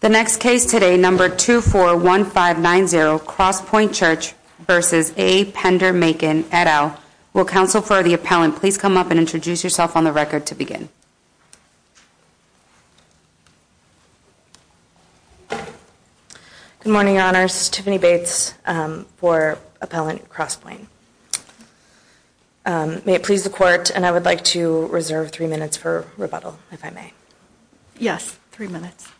The next case today, number 241590, Crosspoint Church v. A. Pender Makin, et al. Will counsel for the appellant please come up and introduce yourself on the record to begin? Good morning, Your Honors. Tiffany Bates for Appellant Crosspoint. May it please the Court, and I would like to reserve three minutes for rebuttal, if I may. Yes, three minutes.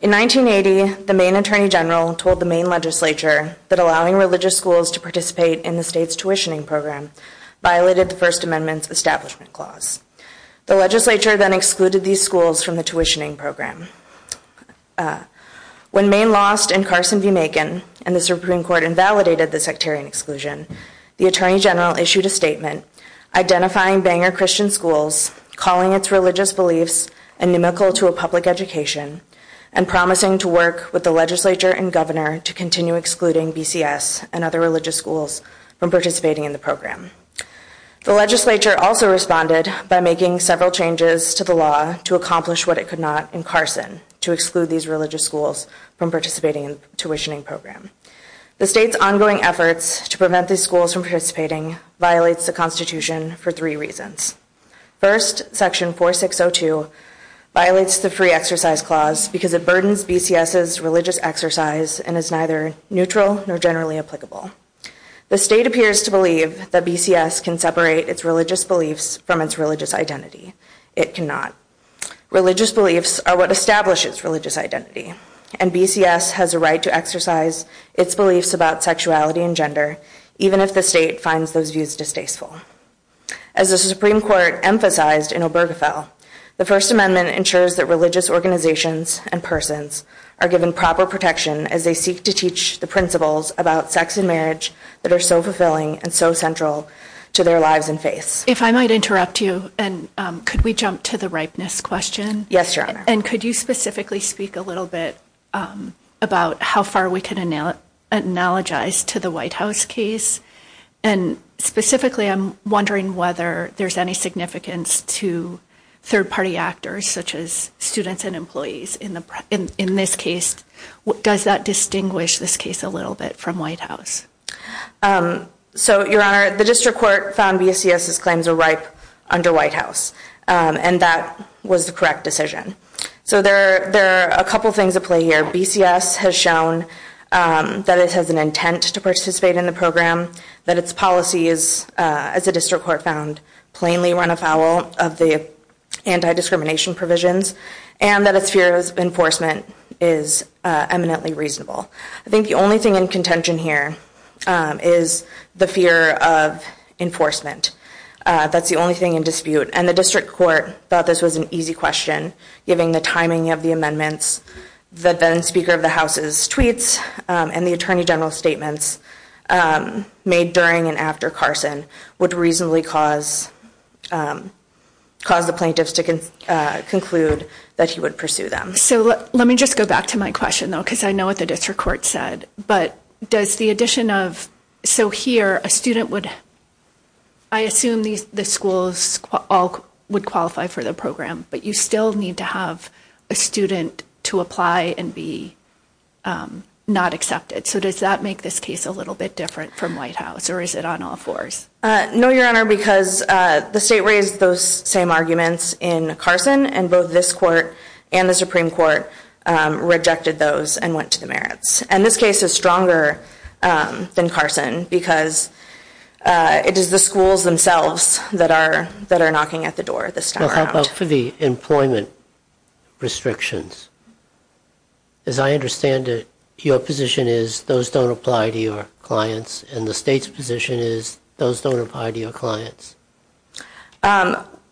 In 1980, the Maine Attorney General told the Maine Legislature that allowing religious schools to participate in the state's tuitioning program violated the First Amendment's Establishment Clause. The Legislature then excluded these schools from the tuitioning program. When Maine lost in Carson v. Makin, and the Supreme Court invalidated the sectarian exclusion, the Attorney General issued a statement identifying Bangor Christian schools, calling its religious beliefs inimical to a public education, and promising to work with the Legislature and Governor to continue excluding BCS and other religious schools from participating in the program. The Legislature also responded by making several changes to the law to accomplish what it could not in Carson, to exclude these religious schools from participating in the tuitioning The state's ongoing efforts to prevent these schools from participating violates the Constitution for three reasons. First, Section 4602 violates the Free Exercise Clause because it burdens BCS's religious exercise and is neither neutral nor generally applicable. The state appears to believe that BCS can separate its religious beliefs from its religious identity. It cannot. Religious beliefs are what establish its religious identity, and BCS has a right to exercise its beliefs about sexuality and gender, even if the state finds those views distasteful. As the Supreme Court emphasized in Obergefell, the First Amendment ensures that religious organizations and persons are given proper protection as they seek to teach the principles about sex and marriage that are so fulfilling and so central to their lives and faiths. If I might interrupt you, and could we jump to the ripeness question, and could you specifically speak a little bit about how far we can analogize to the White House case, and specifically I'm wondering whether there's any significance to third-party actors such as students and employees in this case. Does that distinguish this case a little bit from White House? So Your Honor, the District Court found BCS's claims were ripe under White House, and that was the correct decision. So there are a couple things at play here. BCS has shown that it has an intent to participate in the program, that its policies, as the District Court found, plainly run afoul of the anti-discrimination provisions, and that its fear of enforcement is eminently reasonable. I think the only thing in contention here is the fear of enforcement. That's the only thing in dispute, and the District Court thought this was an easy question, given the timing of the amendments, the then-Speaker of the House's tweets, and the Attorney General's statements made during and after Carson would reasonably cause the plaintiffs to conclude that he would pursue them. So let me just go back to my question, though, because I know what the District Court said, but does the addition of, so here, a student would, I assume the schools all would qualify for the program, but you still need to have a student to apply and be not accepted. So does that make this case a little bit different from White House, or is it on all fours? No, Your Honor, because the state raised those same arguments in Carson, and both this Court and the Supreme Court rejected those and went to the merits. And this case is stronger than Carson, because it is the schools themselves that are knocking at the door this time around. Well, how about for the employment restrictions? As I understand it, your position is those don't apply to your clients, and the state's position is those don't apply to your clients.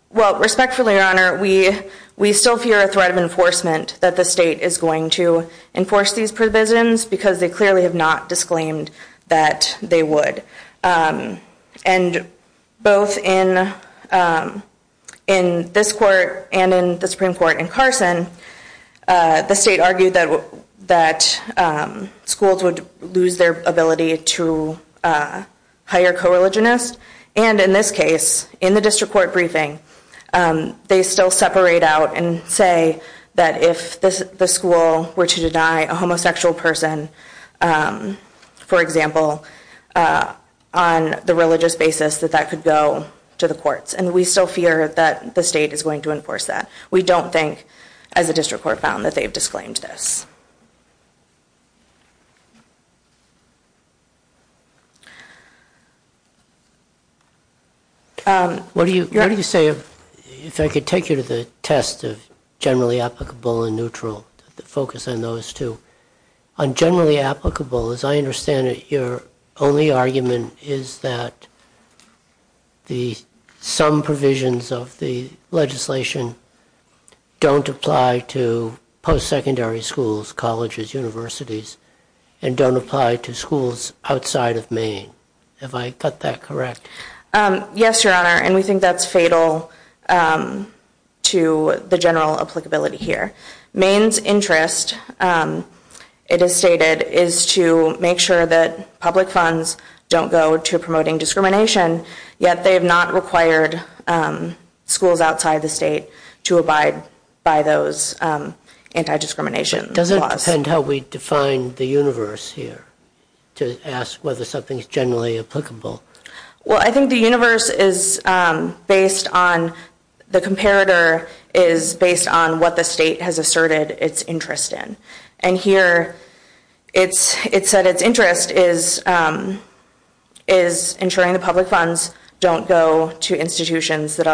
Well, respectfully, Your Honor, we still fear a threat of enforcement that the state is going to enforce these provisions, because they clearly have not disclaimed that they would. And both in this Court and in the Supreme Court in Carson, the state argued that schools would lose their ability to hire co-religionists, and in this case, in the District Court briefing, they still separate out and say that if the school were to deny a homosexual person, for example, on the religious basis, that that could go to the courts. And we still fear that the state is going to enforce that. We don't think, as the District Court found, that they've disclaimed this. What do you say, if I could take you to the test of generally applicable and neutral, the focus on those two. On generally applicable, as I understand it, your only argument is that some provisions of the legislation don't apply to post-secondary schools, colleges, universities, and don't apply to schools outside of Maine. Have I got that correct? Yes, Your Honor, and we think that's fatal to the general applicability here. Maine's interest, it is stated, is to make sure that public funds don't go to promoting discrimination, yet they have not required schools outside the state to abide by those anti-discrimination laws. Does it depend how we define the universe here, to ask whether something is generally applicable? Well, I think the universe is based on, the comparator is based on what the state has asserted its interest in. And here, it said its interest is ensuring the public funds don't go to institutions that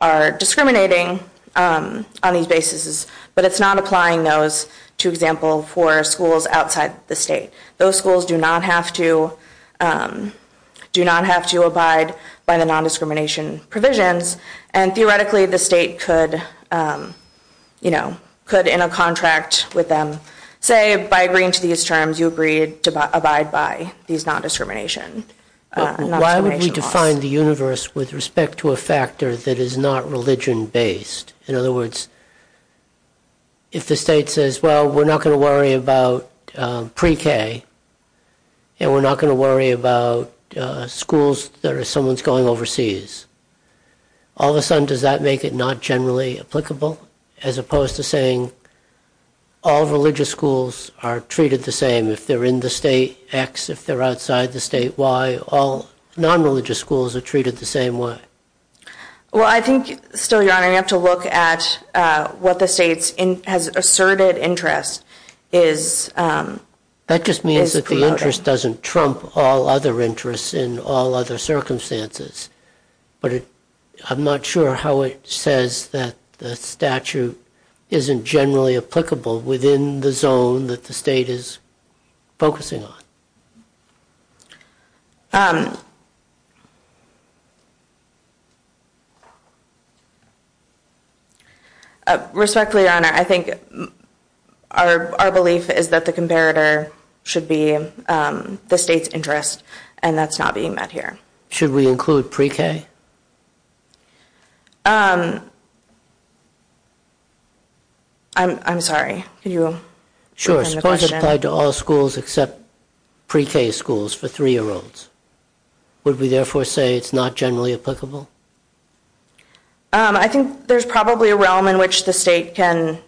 are discriminating on these bases. But it's not applying those, to example, for schools outside the state. Those schools do not have to, do not have to abide by the non-discrimination provisions. And theoretically, the state could, you know, could, in a contract with them, say, by agreeing to these terms, you agreed to abide by these non-discrimination laws. Why would we define the universe with respect to a factor that is not religion-based? In other words, if the state says, well, we're not going to worry about pre-K, and we're not going to worry about schools that are, someone's going overseas, all of a sudden, does that make it not generally applicable? As opposed to saying, all religious schools are treated the same. If they're in the state X, if they're outside the state Y, all non-religious schools are treated the same way. Well, I think, still, Your Honor, you have to look at what the state's, has asserted interest is, is promoting. That just means that the interest doesn't trump all other interests in all other circumstances. But I'm not sure how it says that the statute isn't generally applicable within the zone that the state is focusing on. Respectfully, Your Honor, I think our belief is that the comparator should be the state's interest, and that's not being met here. Should we include pre-K? I'm sorry, could you return the question? Suppose it applied to all schools except pre-K schools for three-year-olds. Would we, therefore, say it's not generally applicable? I think there's probably a realm in which the state can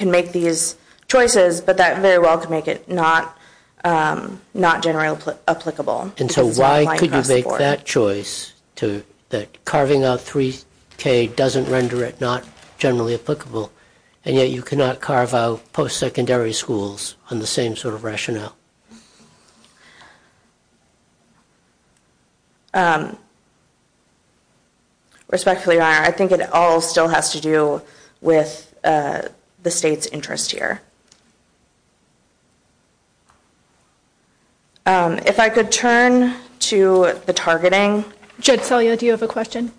make these choices, but that very well could make it not generally applicable. And so why could you make that choice, that carving out three-K doesn't render it not generally applicable, and yet you cannot carve out post-secondary schools on the same sort of rationale? Respectfully, Your Honor, I think it all still has to do with the state's interest here. If I could turn to the targeting. Judge Selye, do you have a question?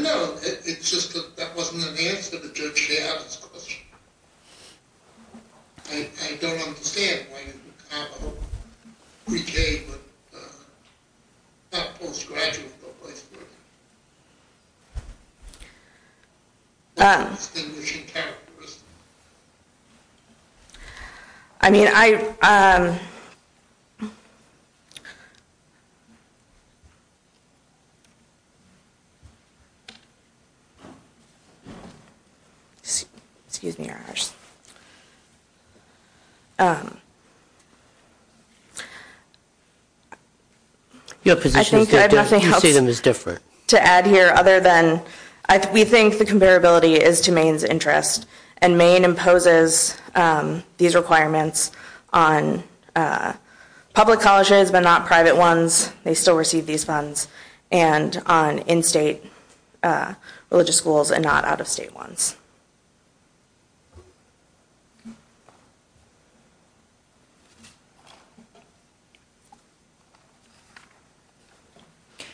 No, it's just that that wasn't an answer to Judge Galliard's question. I don't understand why you would carve out three-K schools on the same sort of rationale. Why would you carve out three-K, but not post-graduate, but vice versa? That's distinguishing characteristics. I mean, I... Excuse me, Your Honor. Your position is different. I think I have nothing else to add here other than we think the comparability is to Maine's interest, and Maine imposes these requirements on public colleges but not private ones. They still receive these funds, and on in-state religious schools and not out-of-state ones.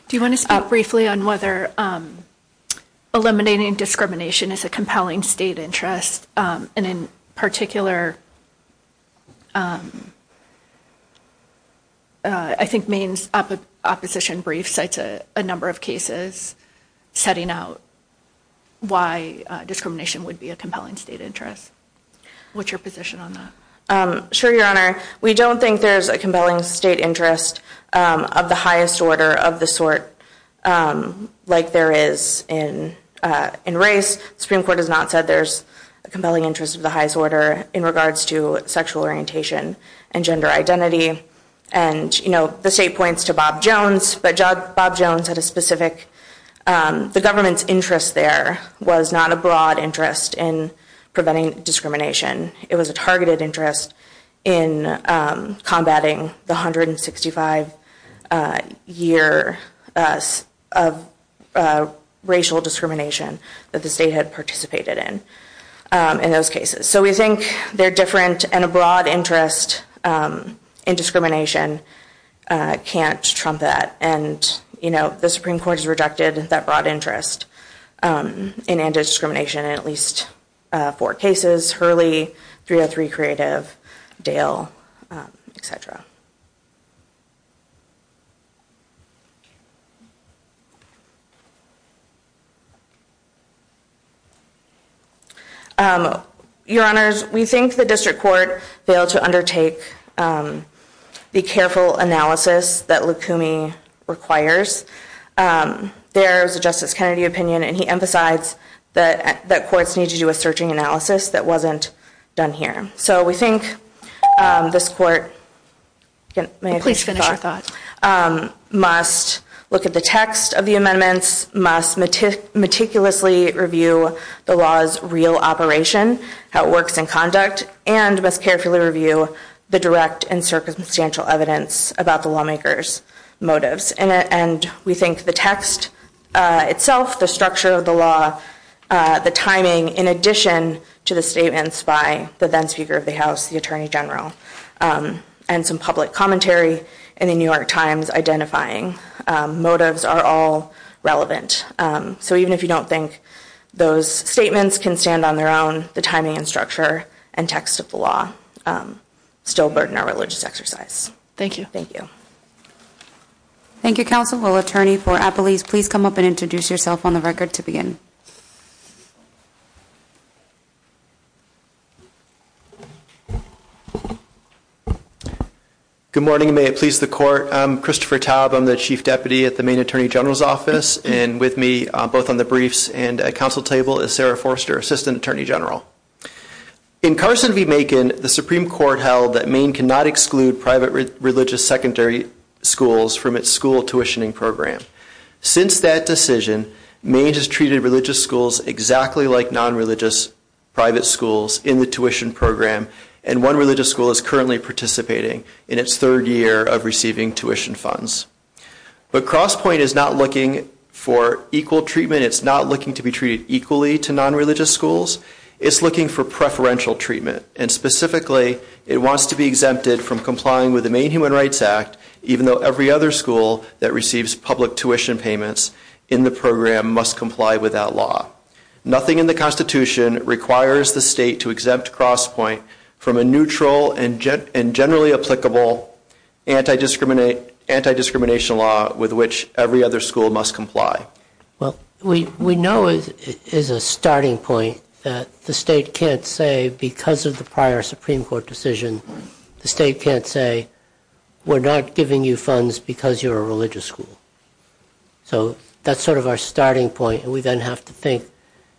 Do you want to speak briefly on whether eliminating discrimination is a compelling state interest, and in particular, I think Maine's opposition brief cites a number of cases setting out why discrimination would be a compelling state interest. What's your position on that? Sure, Your Honor. We don't think there's a compelling state interest of the highest order of the sort like there is in race. The Supreme Court has not said there's a compelling interest of the highest order in regards to sexual orientation and gender identity. And, you know, the state points to Bob Jones, but Bob Jones had a specific... The government's interest there was not a broad interest in preventing discrimination. It was a targeted interest in combating the 165 years of racial discrimination that the state had participated in in those cases. So we think they're different, and a broad interest in discrimination can't trump that. And, you know, the Supreme Court has rejected that broad interest in anti-discrimination in at least four cases, Hurley, 303 Creative, Dale, etc. Your Honors, we think the District Court failed to undertake the careful analysis that Lukumi requires. There's a Justice Kennedy opinion, and he emphasizes that courts need to do a searching analysis that wasn't done here. So we think this Court... Please finish your thought. ...must look at the text of the amendments, must meticulously review the law's real operation, how it works in conduct, and must carefully review the direct and circumstantial evidence about the lawmakers' motives. And we think the text itself, the structure of the law, the timing, in addition to the statements by the then Speaker of the House, the Attorney General, and some public commentary in the New York Times identifying motives are all relevant. So even if you don't think those statements can stand on their own, the timing and structure and text of the law still burden our religious exercise. Thank you. Thank you, Counsel. Will Attorney for Appelese please come up and introduce yourself on the record to begin? Good morning, and may it please the Court. I'm Christopher Taub. I'm the Chief Deputy at the Maine Attorney General's Office. And with me, both on the briefs and at Council table, is Sarah Forster, Assistant Attorney General. In Carson v. Macon, the Supreme Court held that Maine cannot exclude private religious secondary schools from its school tuitioning program. Since that decision, Maine has treated religious schools exactly like non-religious private schools in the tuition program, and one religious school is currently participating in its third year of receiving tuition funds. But CrossPoint is not looking for equal treatment. It's not looking to be treated equally to non-religious schools. It's looking for preferential treatment, and specifically, it wants to be exempted from complying with the Maine Human Rights Act, even though every other school that receives public tuition payments in the program must comply with that law. Nothing in the Constitution requires the state to exempt CrossPoint from a neutral and generally applicable anti-discrimination law with which every other school must comply. Well, we know as a starting point that the state can't say, because of the prior Supreme Court decision, the state can't say, we're not giving you funds because you're a religious school. So that's sort of our starting point, and we then have to think,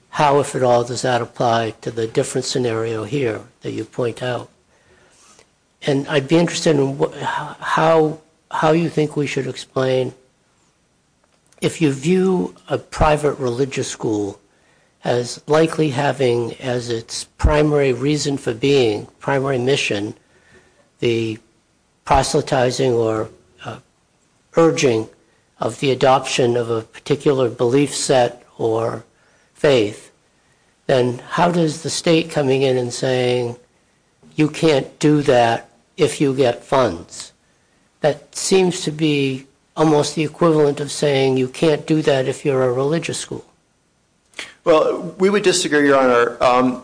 how, if at all, does that apply to the different scenario here that you point out? And I'd be interested in how you think we should explain if you view a private religious school as likely having as its primary reason for being, primary mission, the proselytizing or urging of the adoption of a particular belief set or faith, then how does the state coming in and saying, you can't do that if you get funds? That seems to be almost the equivalent of saying, you can't do that if you're a religious school. Well, we would disagree, Your Honor.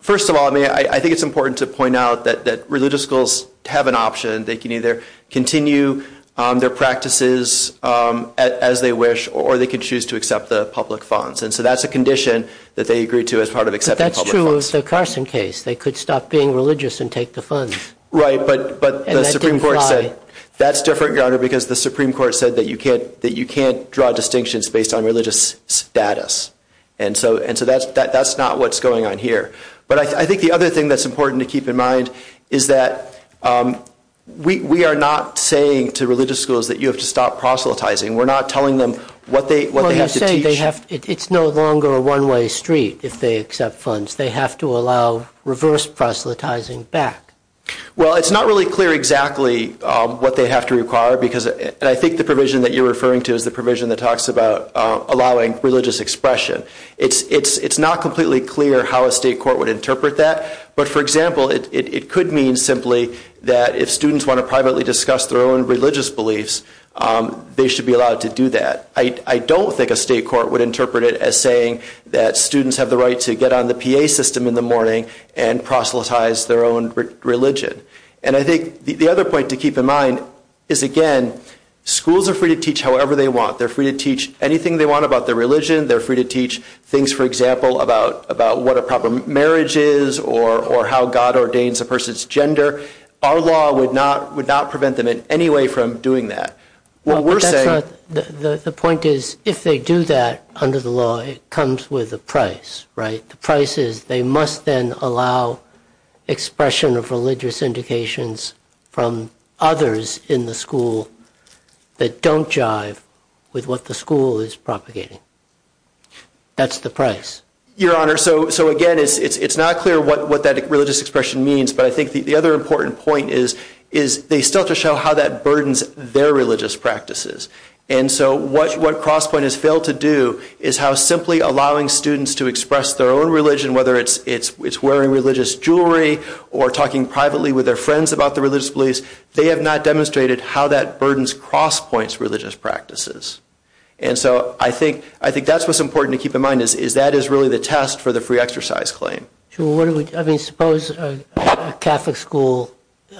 First of all, I think it's important to point out that religious schools have an option. They can either continue their practices as they wish, or they can choose to accept the public funds. And so that's a condition that they agree to as part of accepting public funds. But that's true of the Carson case. They could stop being religious and take the funds. Right, but the Supreme Court said that's different, Your Honor, because the Supreme Court said that you can't draw distinctions based on religious status. And so that's not what's going on here. But I think the other thing that's important to keep in mind is that we are not saying to religious schools that you have to stop proselytizing. We're not telling them what they have to teach. It's no longer a one-way street if they accept funds. They have to allow reverse proselytizing back. Well, it's not really clear exactly what they have to require. And I think the provision that you're referring to is the provision that talks about allowing religious expression. It's not completely clear how a state court would interpret that. But, for example, it could mean simply that if students want to privately discuss their own religious beliefs, they should be allowed to do that. I don't think a state court would interpret it as saying that students have the right to get on the PA system in the morning and proselytize their own religion. And I think the other point to keep in mind is, again, schools are free to teach however they want. They're free to teach anything they want about their religion. They're free to teach things, for example, about what a proper marriage is or how God ordains a person's gender. Our law would not prevent them in any way from doing that. The point is, if they do that under the law, it comes with a price, right? The price is they must then allow expression of religious indications from others in the school that don't jive with what the school is propagating. That's the price. Your Honor, so again, it's not clear what that religious expression means, but I think the other important point is they still have to show how that burdens their religious practices. And so what CrossPoint has failed to do is how simply allowing students to express their own religion, whether it's wearing religious jewelry or talking privately with their friends about their religious beliefs, they have not demonstrated how that burdens CrossPoint's religious practices. And so I think that's what's important to keep in mind, is that is really the test for the free exercise claim. I mean, suppose a Catholic school,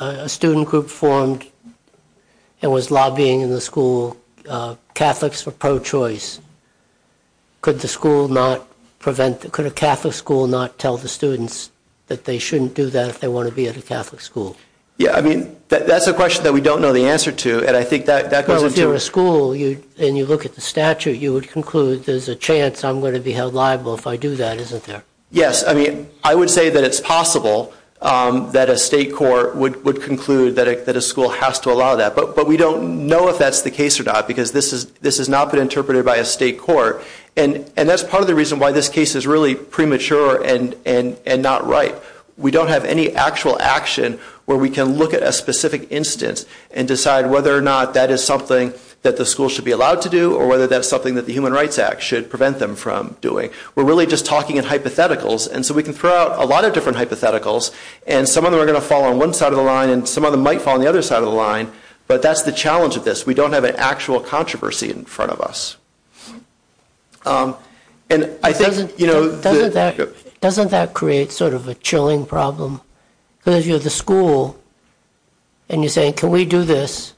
a student group formed and was lobbying in the school Catholics for pro-choice. Could the school not prevent, could a Catholic school not tell the students that they shouldn't do that if they want to be at a Catholic school? Yeah, I mean, that's a question that we don't know the answer to, and I think that goes into... Well, if you're a school and you look at the statute, you would conclude there's a chance I'm going to be held liable if I do that, isn't there? Yes, I mean, I would say that it's possible that a state court would conclude that a school has to allow that, but we don't know if that's the case or not, because this has not been interpreted by a state court, and that's part of the reason why this case is really premature and not right. We don't have any actual action where we can look at a specific instance and decide whether or not that is something that the school should be allowed to do or whether that's something that the Human Rights Act should prevent them from doing. We're really just talking in hypotheticals, and so we can throw out a lot of different hypotheticals, and some of them are going to fall on one side of the line and some of them might fall on the other side of the line, but that's the challenge of this. We don't have an actual controversy in front of us. Doesn't that create sort of a chilling problem? Because you're the school, and you're saying, can we do this?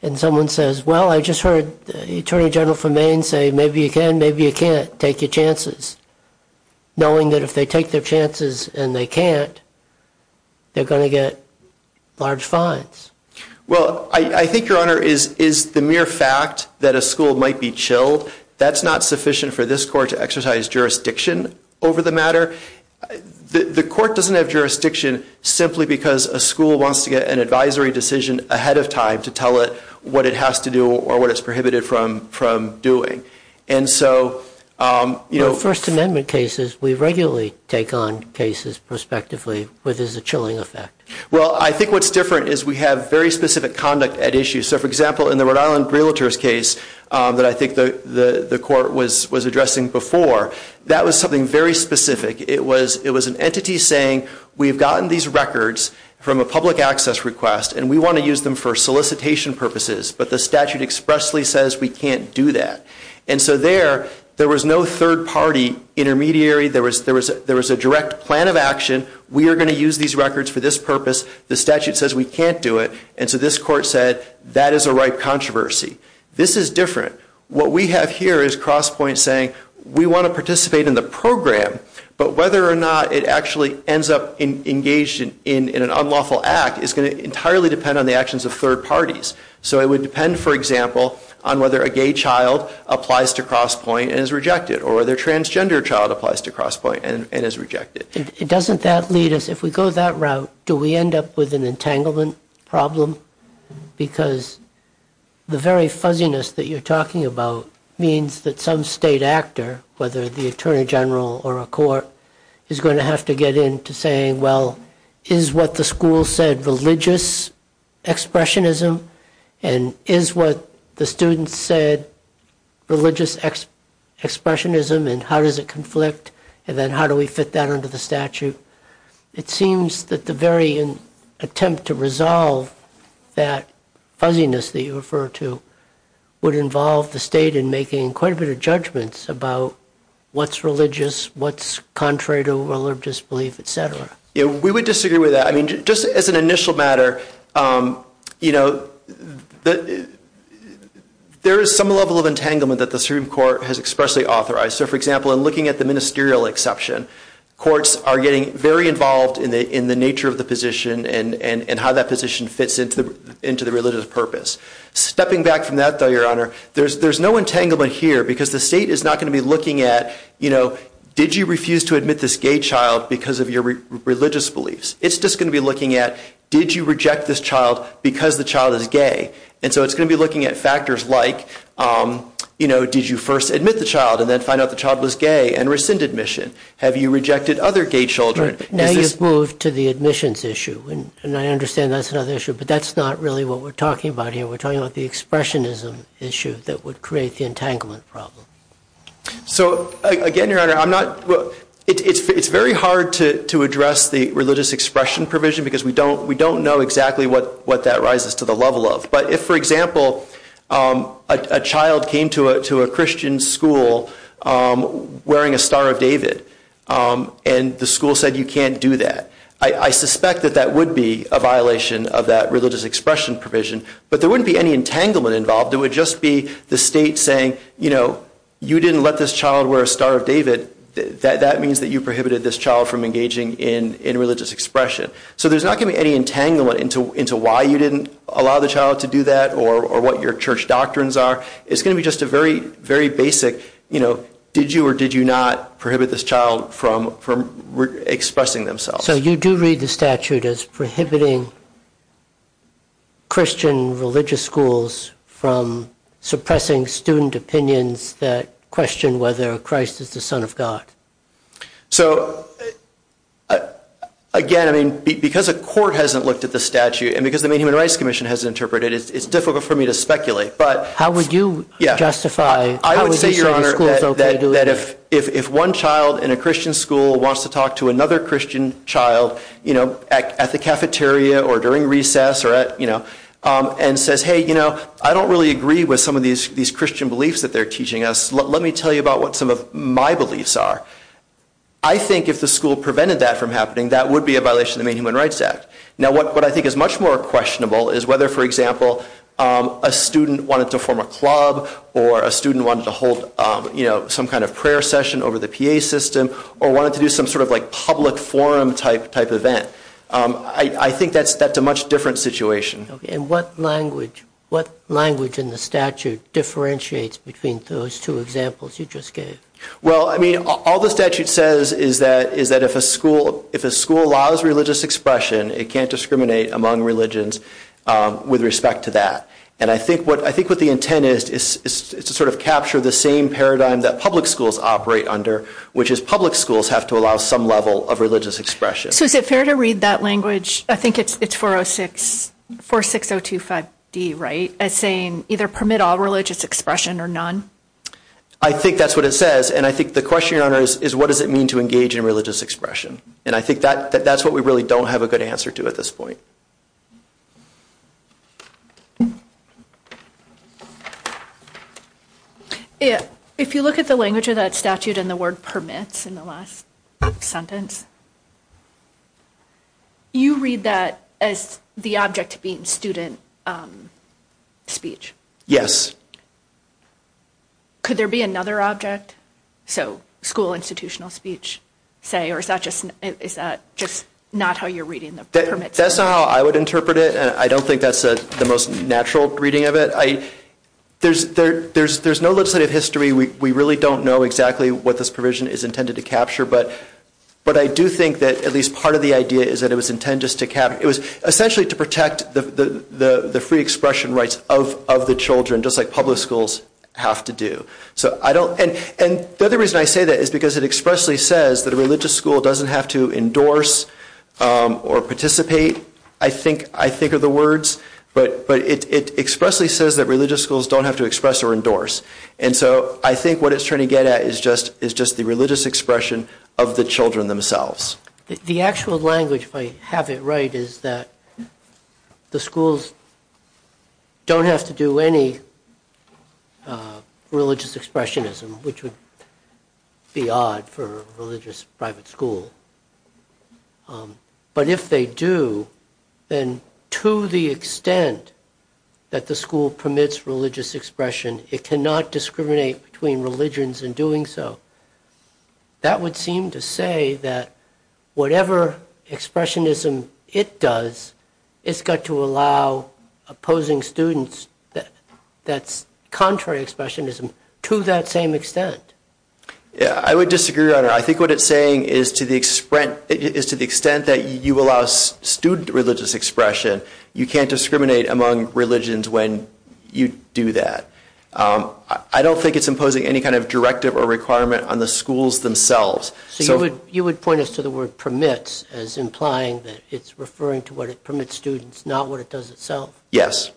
And someone says, well, I just heard the Attorney General from Maine say, maybe you can, maybe you can't take your chances, knowing that if they take their chances and they can't, they're going to get large fines. Well, I think, Your Honor, is the mere fact that a school might be chilled, that's not sufficient for this Court to exercise jurisdiction over the matter. The Court doesn't have jurisdiction simply because a school wants to get an advisory decision ahead of time to tell it what it has to do or what it's prohibited from doing. And so, you know... In First Amendment cases, we regularly take on cases prospectively where there's a chilling effect. Well, I think what's different is we have very specific conduct at issue. So, for example, in the Rhode Island Realtors case that I think the Court was addressing before, that was something very specific. It was an entity saying, we've gotten these records from a public access request and we want to use them for solicitation purposes, but the statute expressly says we can't do that. And so there, there was no third party intermediary, there was a direct plan of action, we are going to use these records for this purpose, the statute says we can't do it, and so this Court said that is a ripe controversy. This is different. What we have here is Crosspoint saying, we want to participate in the program, but whether or not it actually ends up engaged in an unlawful act is going to entirely depend on the actions of third parties. So it would depend, for example, on whether a gay child applies to Crosspoint and is rejected, or whether a transgender child applies to Crosspoint and is rejected. It doesn't that lead us, if we go that route, do we end up with an entanglement problem? Because the very fuzziness that you're talking about means that some state actor, whether the Attorney General or a court, is going to have to get in to saying, well, is what the school said religious expressionism, and is what the students said religious expressionism, and how does it conflict, and then how do we fit that into the statute? It seems that the very attempt to resolve that fuzziness that you refer to would involve the state in making quite a bit of judgments about what's religious, what's contrary to religious belief, etc. We would disagree with that. Just as an initial matter, there is some level of entanglement that the Supreme Court has expressly authorized. So, for example, in looking at the ministerial exception, courts are getting very involved in the nature of the position and how that position fits into the religious purpose. Stepping back from that, though, Your Honor, there's no entanglement here, because the state is not going to be looking at, did you refuse to admit this gay child because of your religious beliefs? It's just going to be looking at, did you reject this child because the child is gay? And so it's going to be looking at factors like, did you first admit the child and then find out the child was gay and rescind admission? Have you rejected other gay children? Now you've moved to the admissions issue, and I understand that's another issue, but that's not really what we're talking about here. We're talking about the expressionism issue that would create the entanglement problem. So, again, Your Honor, it's very hard to address the religious expression provision, because we don't know exactly what that rises to the level of. But if, for example, a child came to a Christian school wearing a Star of David and the school said you can't do that, I suspect that that would be a violation of that religious expression provision, but there wouldn't be any entanglement involved. It would just be the state saying, you know, if you're wearing a Star of David, that means that you prohibited this child from engaging in religious expression. So there's not going to be any entanglement into why you didn't allow the child to do that or what your church doctrines are. It's going to be just a very, very basic, you know, did you or did you not prohibit this child from expressing themselves? So you do read the statute as prohibiting Christian religious schools from suppressing student opinions that question whether Christ is the Son of God. So, again, I mean, because a court hasn't looked at the statute and because the Maine Human Rights Commission hasn't interpreted it, it's difficult for me to speculate, but... How would you justify... I would say, Your Honor, that if one child in a Christian school wants to talk to another Christian child, you know, at the cafeteria or during recess or at, you know, and says, hey, you know, I don't really agree with some of these Christian beliefs that they're teaching us. Let me tell you about what some of my beliefs are. I think if the school prevented that from happening, that would be a violation of the Maine Human Rights Act. Now, what I think is much more questionable is whether, for example, a student wanted to form a club or a student wanted to hold, you know, some kind of prayer session over the PA system or wanted to do some sort of, like, public forum type event. I think that's a much different situation. And what language in the statute differentiates between those two examples you just gave? Well, I mean, all the statute says is that if a school allows religious expression, it can't discriminate among religions with respect to that. And I think what the intent is is to sort of capture the same paradigm that public schools operate under, which is public schools have to allow some level of religious expression. So is it fair to read that language, I think it's 406, 46025D, right, as saying either permit all religious expression or none? I think that's what it says, and I think the question on it is what does it mean to engage in religious expression? And I think that's what we really don't have a good answer to at this point. If you look at the language of that statute and the word permits in the last sentence, you read that as the object being student speech. Yes. Could there be another object? So school institutional speech, say, or is that just not how you're reading the permits? That's not how I would interpret it, and I don't think that's the most natural reading of it. There's no legislative history. We really don't know exactly what this provision is intended to capture, but I do think that at least part of the idea is that it was intended just to essentially protect the free expression rights of the children, just like public schools have to do. And the other reason I say that is because it expressly says that a religious school doesn't have to endorse or participate, I think are the words, but it expressly says that religious schools don't have to express or endorse. And so I think what it's trying to get at is just the religious expression of the children themselves. The actual language, if I have it right, is that the schools don't have to do any religious expressionism, which would be odd for a religious private school. But if they do, then to the extent that the school permits religious expression, it cannot discriminate between religions in doing so. That would seem to say that whatever expressionism it does, it's got to allow opposing students that's contrary expressionism to that same extent. Yeah, I would disagree, Your Honor. I think what it's saying is to the extent that you allow student religious expression, you can't discriminate among religions when you do that. I don't think it's imposing any kind of directive or requirement on the schools themselves. So you would point us to the word permits as implying that it's referring to what it permits students, not what it does itself? Yes.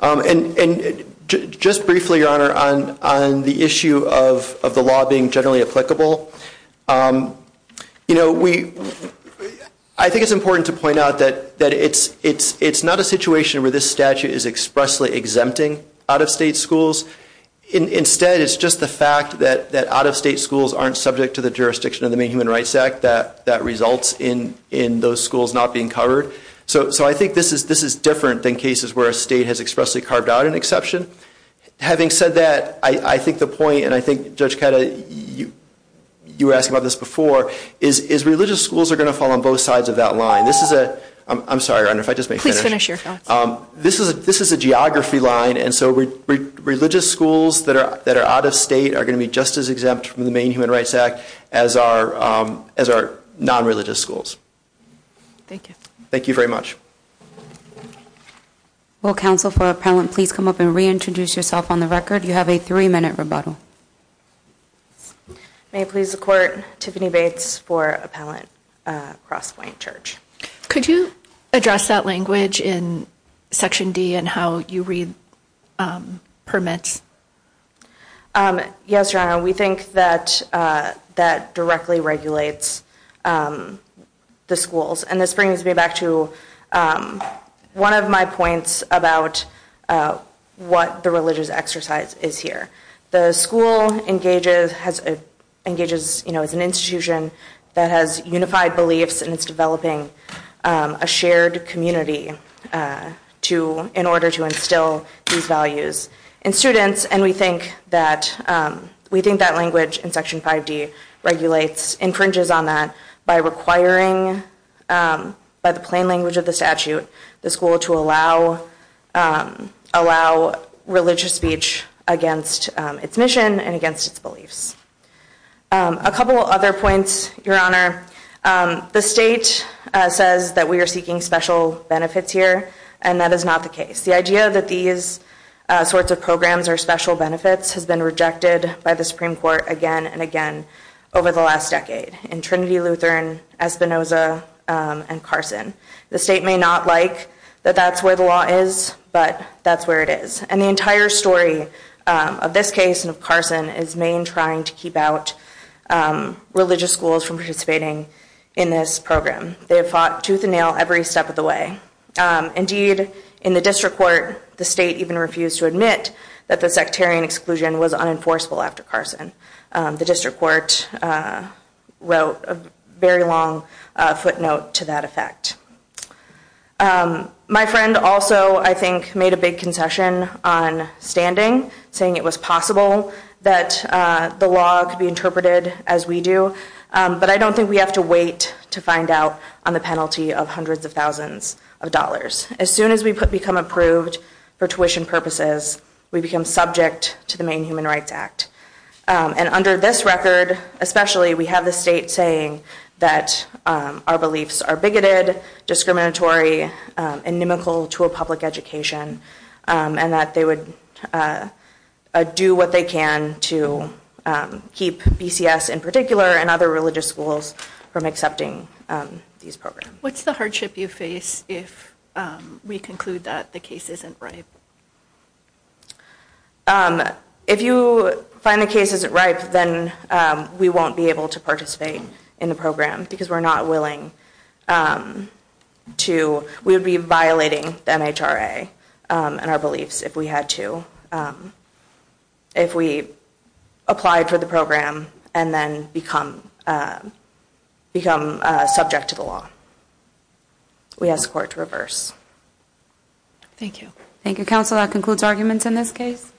And just briefly, Your Honor, on the issue of the law being generally applicable, I think it's important to point out that it's not a situation where this statute is expressly exempting out-of-state schools. Instead, it's just the fact that out-of-state schools aren't subject to the jurisdiction of the Main Human Rights Act that results in those schools not being covered. So I think this is different than cases where a state has expressly carved out an exception. Having said that, I think the point, and I think Judge Cata, you were asking about this before, is religious schools are going to fall on both sides of that line. This is a geography line, and so religious schools that are out-of-state are going to be just as exempt from the Main Human Rights Act as are non-religious schools. Thank you. Thank you very much. Will counsel for appellant please come up and reintroduce yourself on the record? You have a three-minute rebuttal. May it please the Court, Tiffany Bates for Appellant Crosspoint Church. Could you address that language in Section D and how you read permits? Yes, Your Honor. We think that that directly regulates the schools, and this brings me back to one of my points about what the religious exercise is here. The school engages as an institution that has unified beliefs and is developing a shared community in order to instill these values in students, and we think that language in Section 5D regulates, infringes on that by requiring, by the plain language of the statute, the school to allow religious speech against its mission and against its beliefs. A couple other points, Your Honor. The state says that we are seeking special benefits here, and that is not the case. The idea that these sorts of programs are special benefits has been rejected by the Supreme Court again and again over the last decade in Trinity Lutheran, Espinoza, and Carson. The state may not like that that's where the law is, but that's where it is. And the entire story of this case and of Carson is main trying to keep out religious schools from participating in this program. They have fought tooth and nail every step of the way. Indeed, in the District Court, the state even refused to admit that the sectarian exclusion was unenforceable after Carson. The District Court wrote a very long footnote to that effect. My friend also, I think, made a big concession on standing saying it was possible that the law could be interpreted as we do, but I don't think we have to wait to find out on the penalty of hundreds of thousands of dollars. As soon as we become approved for tuition purposes, we become subject to the Maine Human Rights Act. And under this record, especially, we have the state saying that our beliefs are bigoted, discriminatory, inimical to a public education, and that they would do what they can to keep BCS in particular and other religious schools from accepting these programs. What's the hardship you face if we conclude that the case isn't ripe? If you find the case isn't ripe, then we won't be able to participate in the program because we're not willing to, we would be violating the MHRA and our beliefs if we had to, if we applied for the program and then become subject to the law. We ask court to reverse. Thank you. Thank you, Counsel. That concludes arguments in this case.